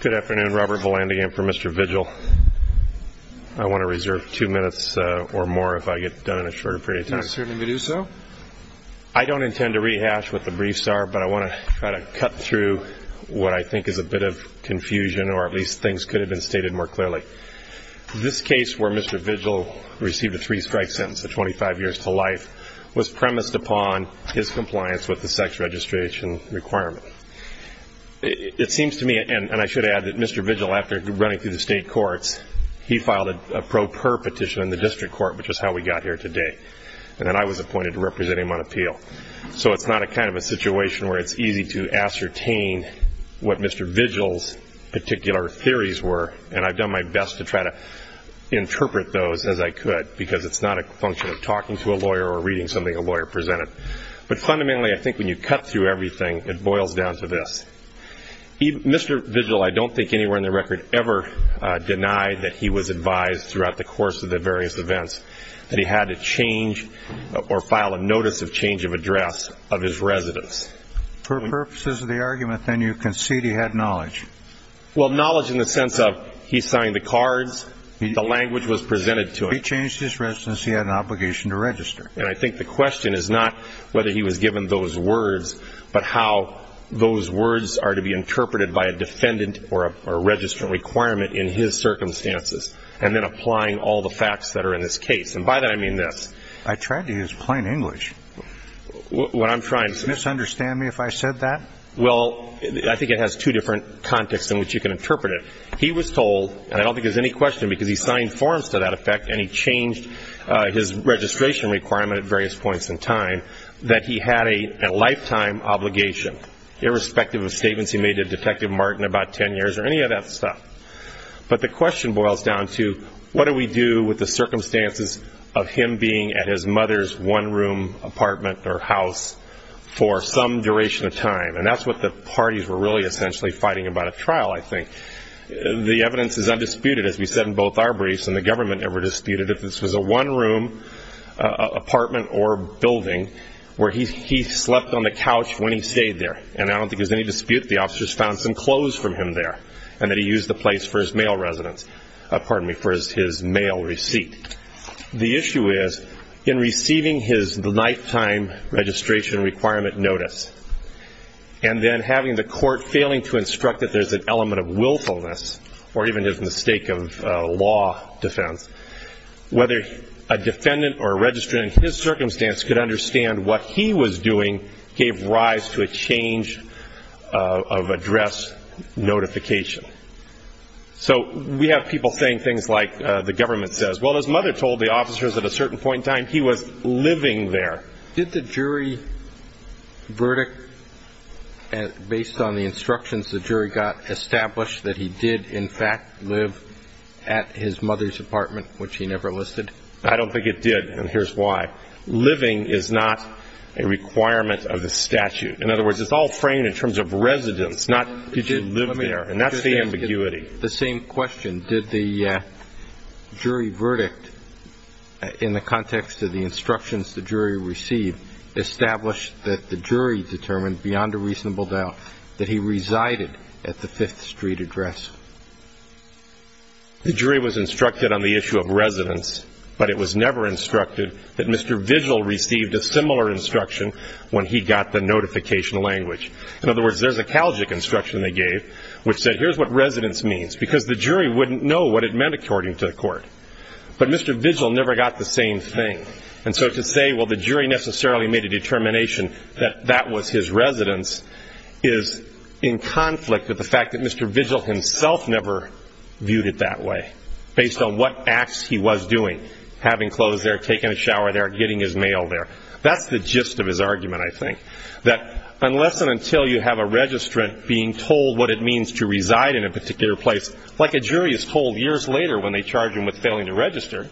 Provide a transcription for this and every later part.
Good afternoon, Robert Vallandigan for Mr. Vigil. I want to reserve two minutes or more if I get done in a shorter period of time. Is it necessary to do so? I don't intend to rehash what the briefs are, but I want to try to cut through what I think is a bit of confusion, or at least things could have been stated more clearly. This case where Mr. Vigil received a three-strike sentence of 25 years to life was premised upon his compliance with the sex registration requirement. It seems to me, and I should add that Mr. Vigil, after running through the state courts, he filed a pro per petition in the district court, which is how we got here today, and then I was appointed to represent him on appeal. So it's not a kind of a situation where it's easy to ascertain what Mr. Vigil's particular theories were, and I've done my best to try to interpret those as I could, because it's not a function of talking to a lawyer or reading something a lawyer presented. But fundamentally, I think when you cut through everything, it boils down to this. Mr. Vigil, I don't think anywhere in the record ever denied that he was advised throughout the course of the various events that he had to change or file a notice of change of address of his residence. For purposes of the argument, then, you concede he had knowledge. Well, knowledge in the sense of he signed the cards, the language was presented to him. He had an obligation to register. And I think the question is not whether he was given those words, but how those words are to be interpreted by a defendant or a registrant requirement in his circumstances, and then applying all the facts that are in this case. And by that, I mean this. I tried to use plain English. What I'm trying to say. Do you misunderstand me if I said that? Well, I think it has two different contexts in which you can interpret it. He was told, and I don't think there's any question because he signed forms to that effect and he changed his registration requirement at various points in time, that he had a lifetime obligation, irrespective of statements he made to Detective Martin about 10 years or any of that stuff. But the question boils down to what do we do with the circumstances of him being at his mother's one-room apartment or house for some duration of time. And that's what the parties were really essentially fighting about at trial, I think. The evidence is undisputed, as we said in both arbories, and the government never disputed if this was a one-room apartment or building where he slept on the couch when he stayed there. And I don't think there's any dispute that the officers found some clothes from him there and that he used the place for his mail receipt. The issue is, in receiving his lifetime registration requirement notice and then having the court failing to instruct that there's an element of willfulness or even his mistake of law defense, whether a defendant or a registrant in his circumstance could understand what he was doing gave rise to a change of address notification. So we have people saying things like the government says, well, his mother told the officers at a certain point in time he was living there. Did the jury verdict, based on the instructions the jury got, establish that he did in fact live at his mother's apartment, which he never listed? I don't think it did, and here's why. Living is not a requirement of the statute. In other words, it's all framed in terms of residence, not did you live there, and that's the ambiguity. The same question. Did the jury verdict, in the context of the instructions the jury received, establish that the jury determined beyond a reasonable doubt that he resided at the Fifth Street address? The jury was instructed on the issue of residence, but it was never instructed that Mr. Vigil received a similar instruction when he got the notification language. In other words, there's a Calgic instruction they gave, which said here's what residence means, because the jury wouldn't know what it meant according to the court. But Mr. Vigil never got the same thing. And so to say, well, the jury necessarily made a determination that that was his residence is in conflict with the fact that Mr. Vigil himself never viewed it that way, based on what acts he was doing, having clothes there, taking a shower there, getting his mail there. That's the gist of his argument, I think, that unless and until you have a registrant being told what it means to reside in a particular place, like a jury is told years later when they charge them with failing to register.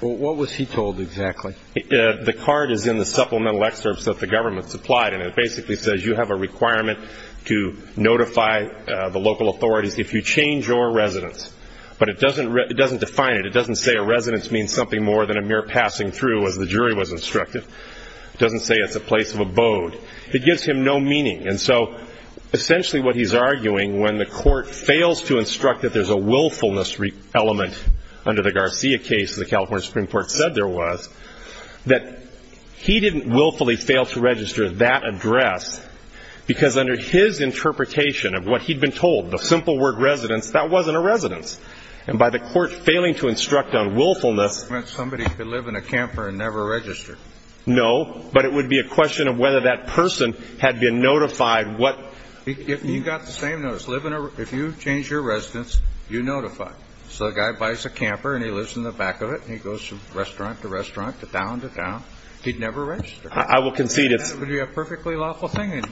What was he told exactly? The card is in the supplemental excerpts that the government supplied, and it basically says you have a requirement to notify the local authorities if you change your residence. But it doesn't define it. It doesn't say a residence means something more than a mere passing through, as the jury was instructed. It doesn't say it's a place of abode. It gives him no meaning. And so essentially what he's arguing when the court fails to instruct that there's a willfulness element under the Garcia case that the California Supreme Court said there was, that he didn't willfully fail to register that address because under his interpretation of what he'd been told, the simple word residence, that wasn't a residence. And by the court failing to instruct on willfulness... It meant somebody could live in a camper and never register. No, but it would be a question of whether that person had been notified what... You got the same notice. If you change your residence, you notify. So the guy buys a camper and he lives in the back of it, and he goes from restaurant to restaurant to town to town. He'd never register. I will concede it's... That would be a perfectly lawful thing,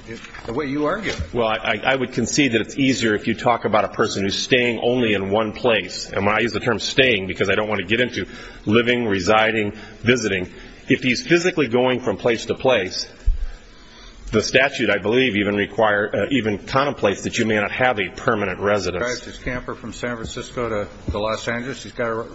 the way you argue it. Well, I would concede that it's easier if you talk about a person who's staying only in one place. And I use the term staying because I don't want to get into living, residing, visiting. If he's physically going from place to place, the statute, I believe, even requires, even contemplates that you may not have a permanent residence. He drives his camper from San Francisco to Los Angeles. He's got to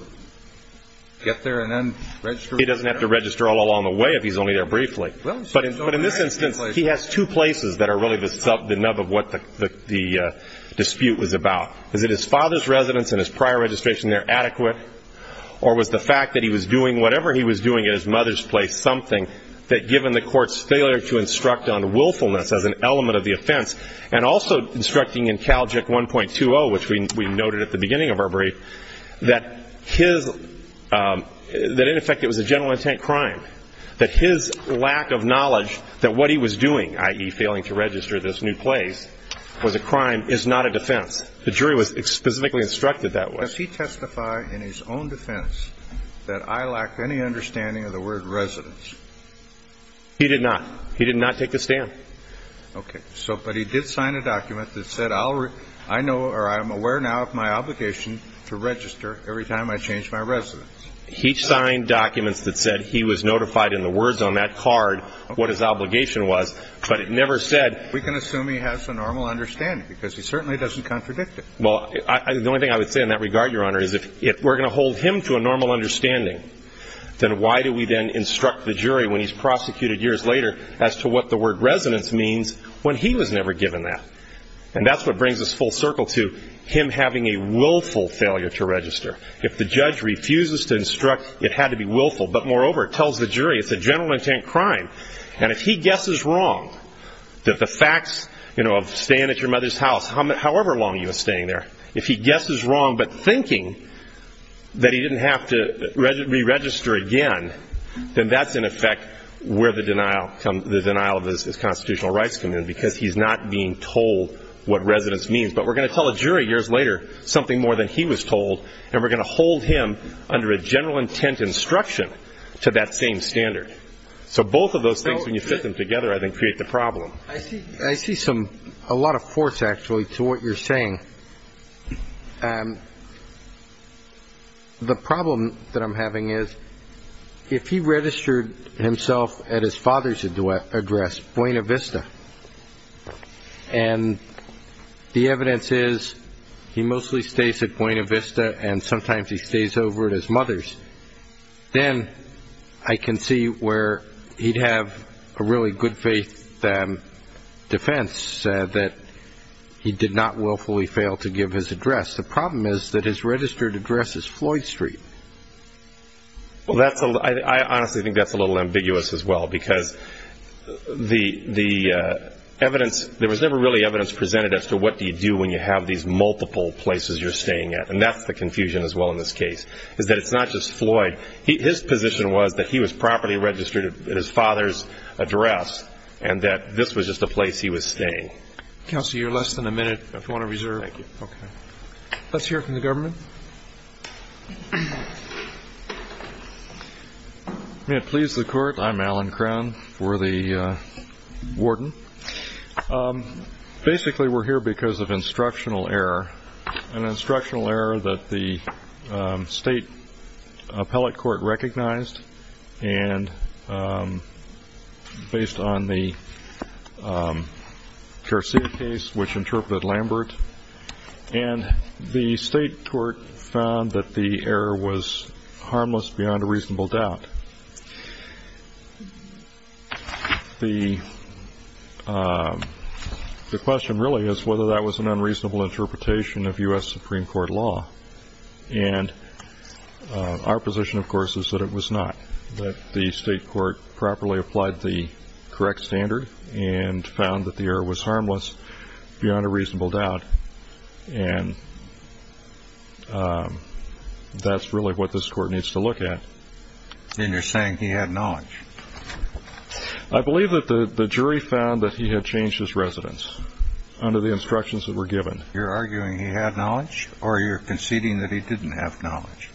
get there and then register. He doesn't have to register all along the way if he's only there briefly. But in this instance, he has two places that are really the nub of what the dispute was about. Is it his father's residence and his prior registration there adequate? Or was the fact that he was doing whatever he was doing at his mother's place something that, given the court's failure to instruct on willfulness as an element of the offense, and also instructing in CalJIC 1.20, which we noted at the beginning of our brief, that in effect it was a general intent crime, that his lack of knowledge that what he was doing, i.e. failing to register this new place, was a crime, is not a defense. The jury was specifically instructed that way. Does he testify in his own defense that I lacked any understanding of the word residence? He did not. He did not take the stand. Okay. But he did sign a document that said I'm aware now of my obligation to register every time I change my residence. He signed documents that said he was notified in the words on that card what his obligation was, but it never said. We can assume he has a normal understanding because he certainly doesn't contradict it. Well, the only thing I would say in that regard, Your Honor, is if we're going to hold him to a normal understanding, then why do we then instruct the jury when he's prosecuted years later as to what the word residence means when he was never given that? And that's what brings us full circle to him having a willful failure to register. If the judge refuses to instruct, it had to be willful. But moreover, it tells the jury it's a general intent crime. And if he guesses wrong that the facts of staying at your mother's house, however long you were staying there, if he guesses wrong but thinking that he didn't have to re-register again, then that's, in effect, where the denial of his constitutional rights come in because he's not being told what residence means. But we're going to tell a jury years later something more than he was told, and we're going to hold him under a general intent instruction to that same standard. So both of those things, when you fit them together, I think create the problem. I see a lot of force, actually, to what you're saying. The problem that I'm having is if he registered himself at his father's address, Buena Vista, and the evidence is he mostly stays at Buena Vista and sometimes he stays over at his mother's, then I can see where he'd have a really good faith defense that he did not willfully fail to give his address. The problem is that his registered address is Floyd Street. I honestly think that's a little ambiguous as well because the evidence, there was never really evidence presented as to what do you do when you have these multiple places you're staying at, and that's the confusion as well in this case is that it's not just Floyd. His position was that he was properly registered at his father's address and that this was just a place he was staying. Counselor, you're less than a minute if you want to reserve. Thank you. Let's hear it from the government. May it please the Court, I'm Alan Crown for the warden. Basically, we're here because of instructional error, an instructional error that the state appellate court recognized and based on the Garcia case, which interpreted Lambert, and the state court found that the error was harmless beyond a reasonable doubt. The question really is whether that was an unreasonable interpretation of U.S. Supreme Court law, and our position, of course, is that it was not. The state court properly applied the correct standard and found that the error was harmless beyond a reasonable doubt, and that's really what this court needs to look at. And you're saying he had knowledge. I believe that the jury found that he had changed his residence under the instructions that were given. You're arguing he had knowledge or you're conceding that he didn't have knowledge?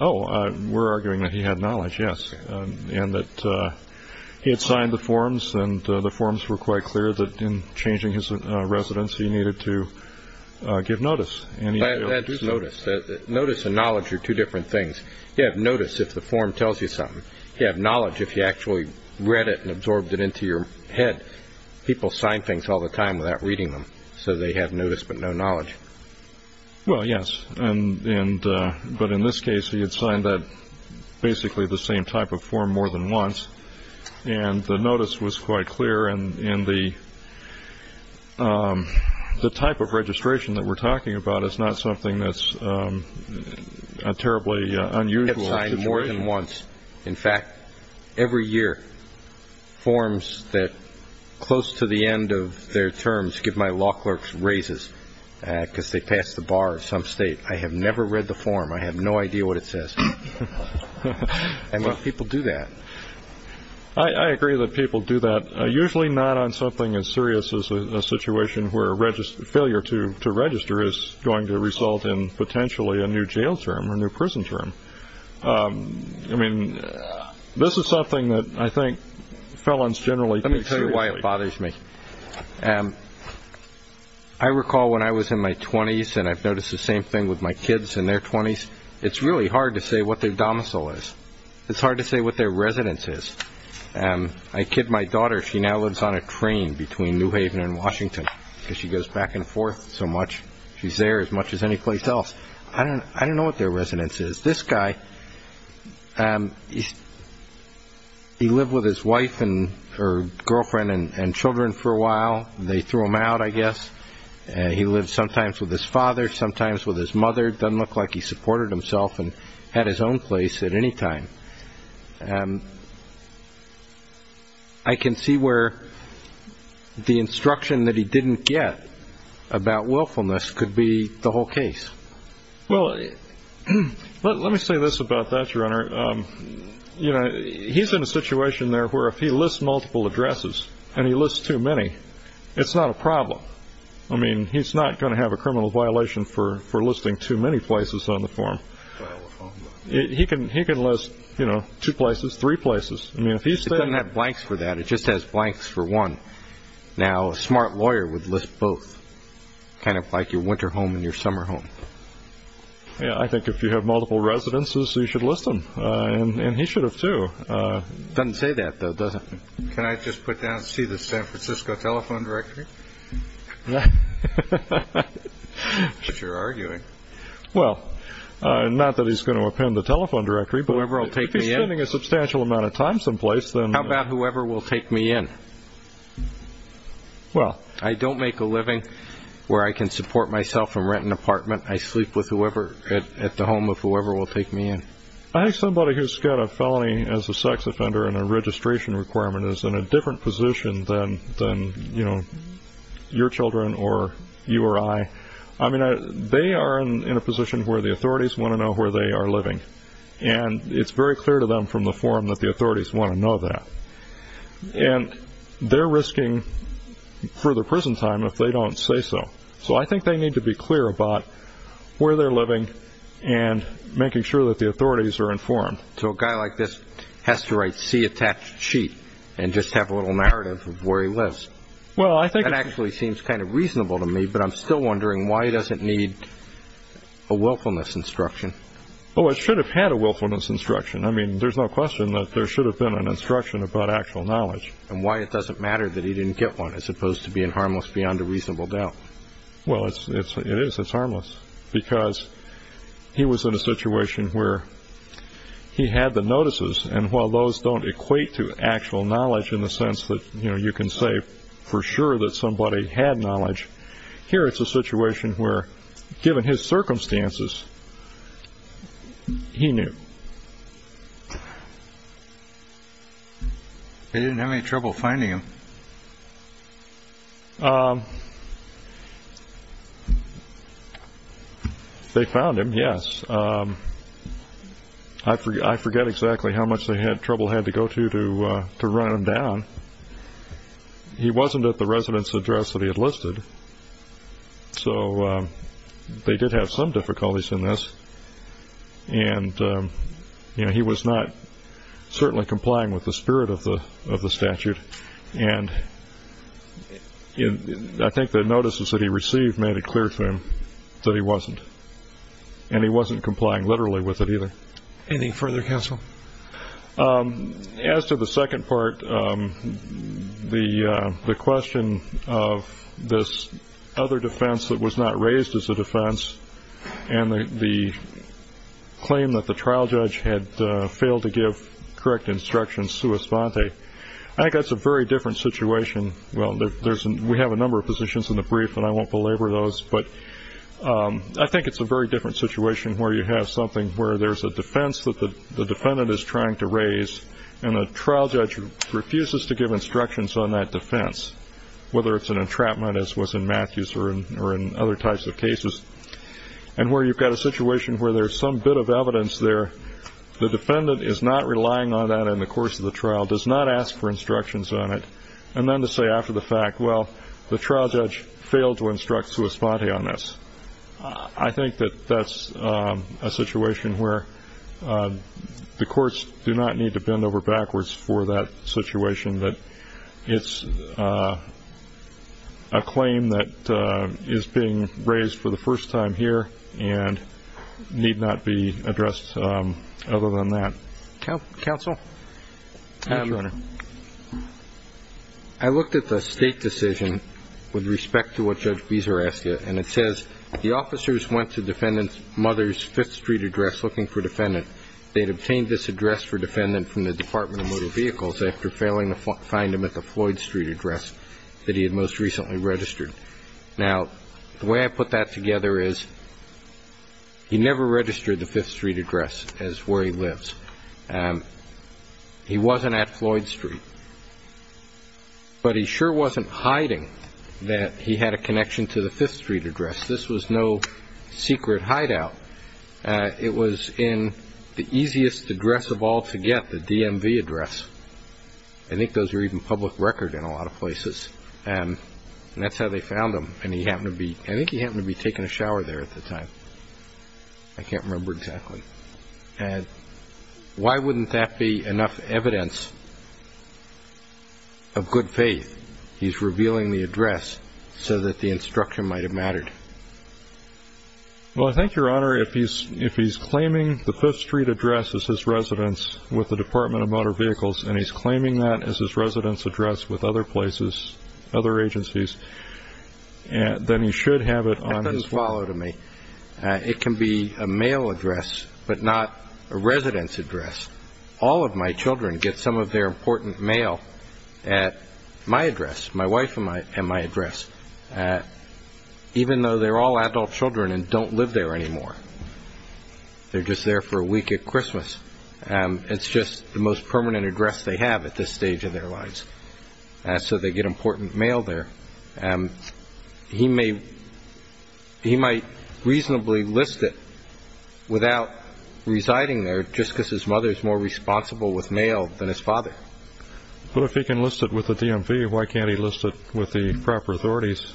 Oh, we're arguing that he had knowledge, yes, and that he had signed the forms and the forms were quite clear that in changing his residence he needed to give notice. That's notice. Notice and knowledge are two different things. You have notice if the form tells you something. You have knowledge if you actually read it and absorbed it into your head. People sign things all the time without reading them, so they have notice but no knowledge. Well, yes, but in this case he had signed basically the same type of form more than once, and the notice was quite clear, and the type of registration that we're talking about is not something that's a terribly unusual situation. He had signed more than once. In fact, every year forms that close to the end of their terms give my law clerk raises because they pass the bar of some state. I have never read the form. I have no idea what it says. How many people do that? I agree that people do that. Usually not on something as serious as a situation where a failure to register is going to result in potentially a new jail term or new prison term. I mean, this is something that I think felons generally take seriously. Let me tell you why it bothers me. I recall when I was in my 20s, and I've noticed the same thing with my kids in their 20s. It's really hard to say what their domicile is. It's hard to say what their residence is. I kid my daughter. She now lives on a train between New Haven and Washington because she goes back and forth so much. She's there as much as any place else. I don't know what their residence is. This guy, he lived with his wife and her girlfriend and children for a while. They threw him out, I guess. He lived sometimes with his father, sometimes with his mother. It doesn't look like he supported himself and had his own place at any time. I can see where the instruction that he didn't get about willfulness could be the whole case. Well, let me say this about that, Your Honor. He's in a situation there where if he lists multiple addresses and he lists too many, it's not a problem. I mean, he's not going to have a criminal violation for listing too many places on the form. He can list two places, three places. It doesn't have blanks for that. It just has blanks for one. Now, a smart lawyer would list both, kind of like your winter home and your summer home. Yeah, I think if you have multiple residences, you should list them, and he should have too. It doesn't say that, though, does it? Can I just put down and see the San Francisco telephone directory? That's what you're arguing. Well, not that he's going to append the telephone directory, but if he's spending a substantial amount of time someplace, then... How about whoever will take me in? Well... I don't make a living where I can support myself and rent an apartment. I sleep at the home of whoever will take me in. I think somebody who's got a felony as a sex offender and a registration requirement is in a different position than your children or you or I. I mean, they are in a position where the authorities want to know where they are living, and it's very clear to them from the form that the authorities want to know that. And they're risking further prison time if they don't say so. So I think they need to be clear about where they're living and making sure that the authorities are informed. So a guy like this has to write a C-attached sheet and just have a little narrative of where he lives. Well, I think... That actually seems kind of reasonable to me, but I'm still wondering why he doesn't need a willfulness instruction. Oh, it should have had a willfulness instruction. I mean, there's no question that there should have been an instruction about actual knowledge. And why it doesn't matter that he didn't get one as opposed to being harmless beyond a reasonable doubt. Well, it is. It's harmless. Because he was in a situation where he had the notices, and while those don't equate to actual knowledge in the sense that you can say for sure that somebody had knowledge, here it's a situation where, given his circumstances, he knew. They didn't have any trouble finding him? They found him, yes. I forget exactly how much trouble they had to go to to run him down. He wasn't at the residence address that he had listed. So they did have some difficulties in this. And he was not certainly complying with the spirit of the statute. And I think the notices that he received made it clear to him that he wasn't. And he wasn't complying literally with it either. Anything further, counsel? As to the second part, the question of this other defense that was not raised as a defense and the claim that the trial judge had failed to give correct instructions sua sponte, I think that's a very different situation. Well, we have a number of positions in the brief, and I won't belabor those. But I think it's a very different situation where you have something where there's a defense that the defendant is trying to raise, and the trial judge refuses to give instructions on that defense, whether it's an entrapment as was in Matthews or in other types of cases, and where you've got a situation where there's some bit of evidence there. The defendant is not relying on that in the course of the trial, does not ask for instructions on it, and then to say after the fact, well, the trial judge failed to instruct sua sponte on this. I think that that's a situation where the courts do not need to bend over backwards for that situation, but it's a claim that is being raised for the first time here and need not be addressed other than that. Counsel? Yes, Your Honor. I looked at the state decision with respect to what Judge Beeser asked you, and it says the officers went to the defendant's mother's Fifth Street address looking for a defendant. They had obtained this address for defendant from the Department of Motor Vehicles after failing to find him at the Floyd Street address that he had most recently registered. Now, the way I put that together is he never registered the Fifth Street address as where he lives. He wasn't at Floyd Street, but he sure wasn't hiding that he had a connection to the Fifth Street address. This was no secret hideout. It was in the easiest address of all to get, the DMV address. I think those were even public record in a lot of places, and that's how they found him, and I think he happened to be taking a shower there at the time. I can't remember exactly. Why wouldn't that be enough evidence of good faith? He's revealing the address so that the instruction might have mattered. Well, I think, Your Honor, if he's claiming the Fifth Street address as his residence with the Department of Motor Vehicles and he's claiming that as his residence address with other places, other agencies, then he should have it on his phone. That doesn't follow to me. It can be a mail address but not a residence address. All of my children get some of their important mail at my address, my wife and my address. Even though they're all adult children and don't live there anymore. They're just there for a week at Christmas. It's just the most permanent address they have at this stage in their lives. So they get important mail there. He might reasonably list it without residing there just because his mother is more responsible with mail than his father. But if he can list it with the DMV, why can't he list it with the proper authorities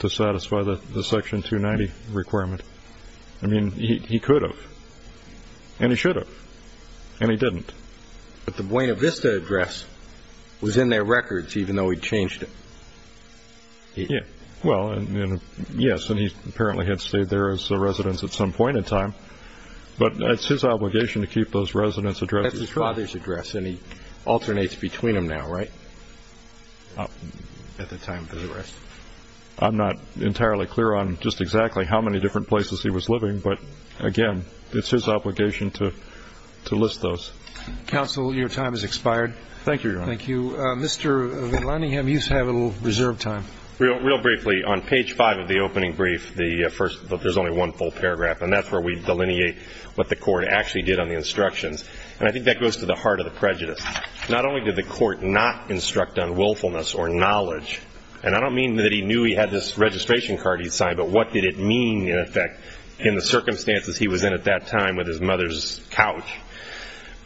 to satisfy the Section 290 requirement? I mean, he could have. And he should have. And he didn't. But the Buena Vista address was in their records even though he changed it. Well, yes, and he apparently had stayed there as a residence at some point in time. But it's his obligation to keep those residence addresses. That's his father's address, and he alternates between them now, right? At the time of his arrest. I'm not entirely clear on just exactly how many different places he was living. But, again, it's his obligation to list those. Counsel, your time has expired. Thank you, Your Honor. Thank you. Mr. VanLandingham, you have a little reserve time. Real briefly, on page 5 of the opening brief, there's only one full paragraph, and that's where we delineate what the court actually did on the instructions. And I think that goes to the heart of the prejudice. Not only did the court not instruct on willfulness or knowledge, and I don't mean that he knew he had this registration card he'd signed, but what did it mean, in effect, in the circumstances he was in at that time with his mother's couch.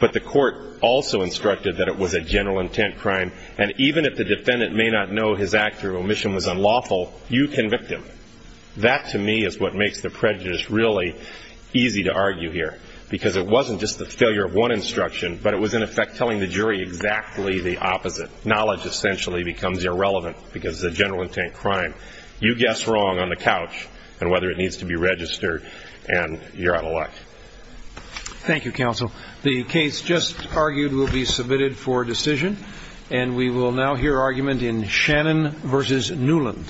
But the court also instructed that it was a general intent crime, and even if the defendant may not know his act or omission was unlawful, you convict him. That, to me, is what makes the prejudice really easy to argue here, because it wasn't just the failure of one instruction, but it was, in effect, telling the jury exactly the opposite. Knowledge, essentially, becomes irrelevant because it's a general intent crime. You guess wrong on the couch on whether it needs to be registered, and you're out of luck. Thank you, counsel. The case just argued will be submitted for decision, and we will now hear argument in Shannon v. Newland. Thank you.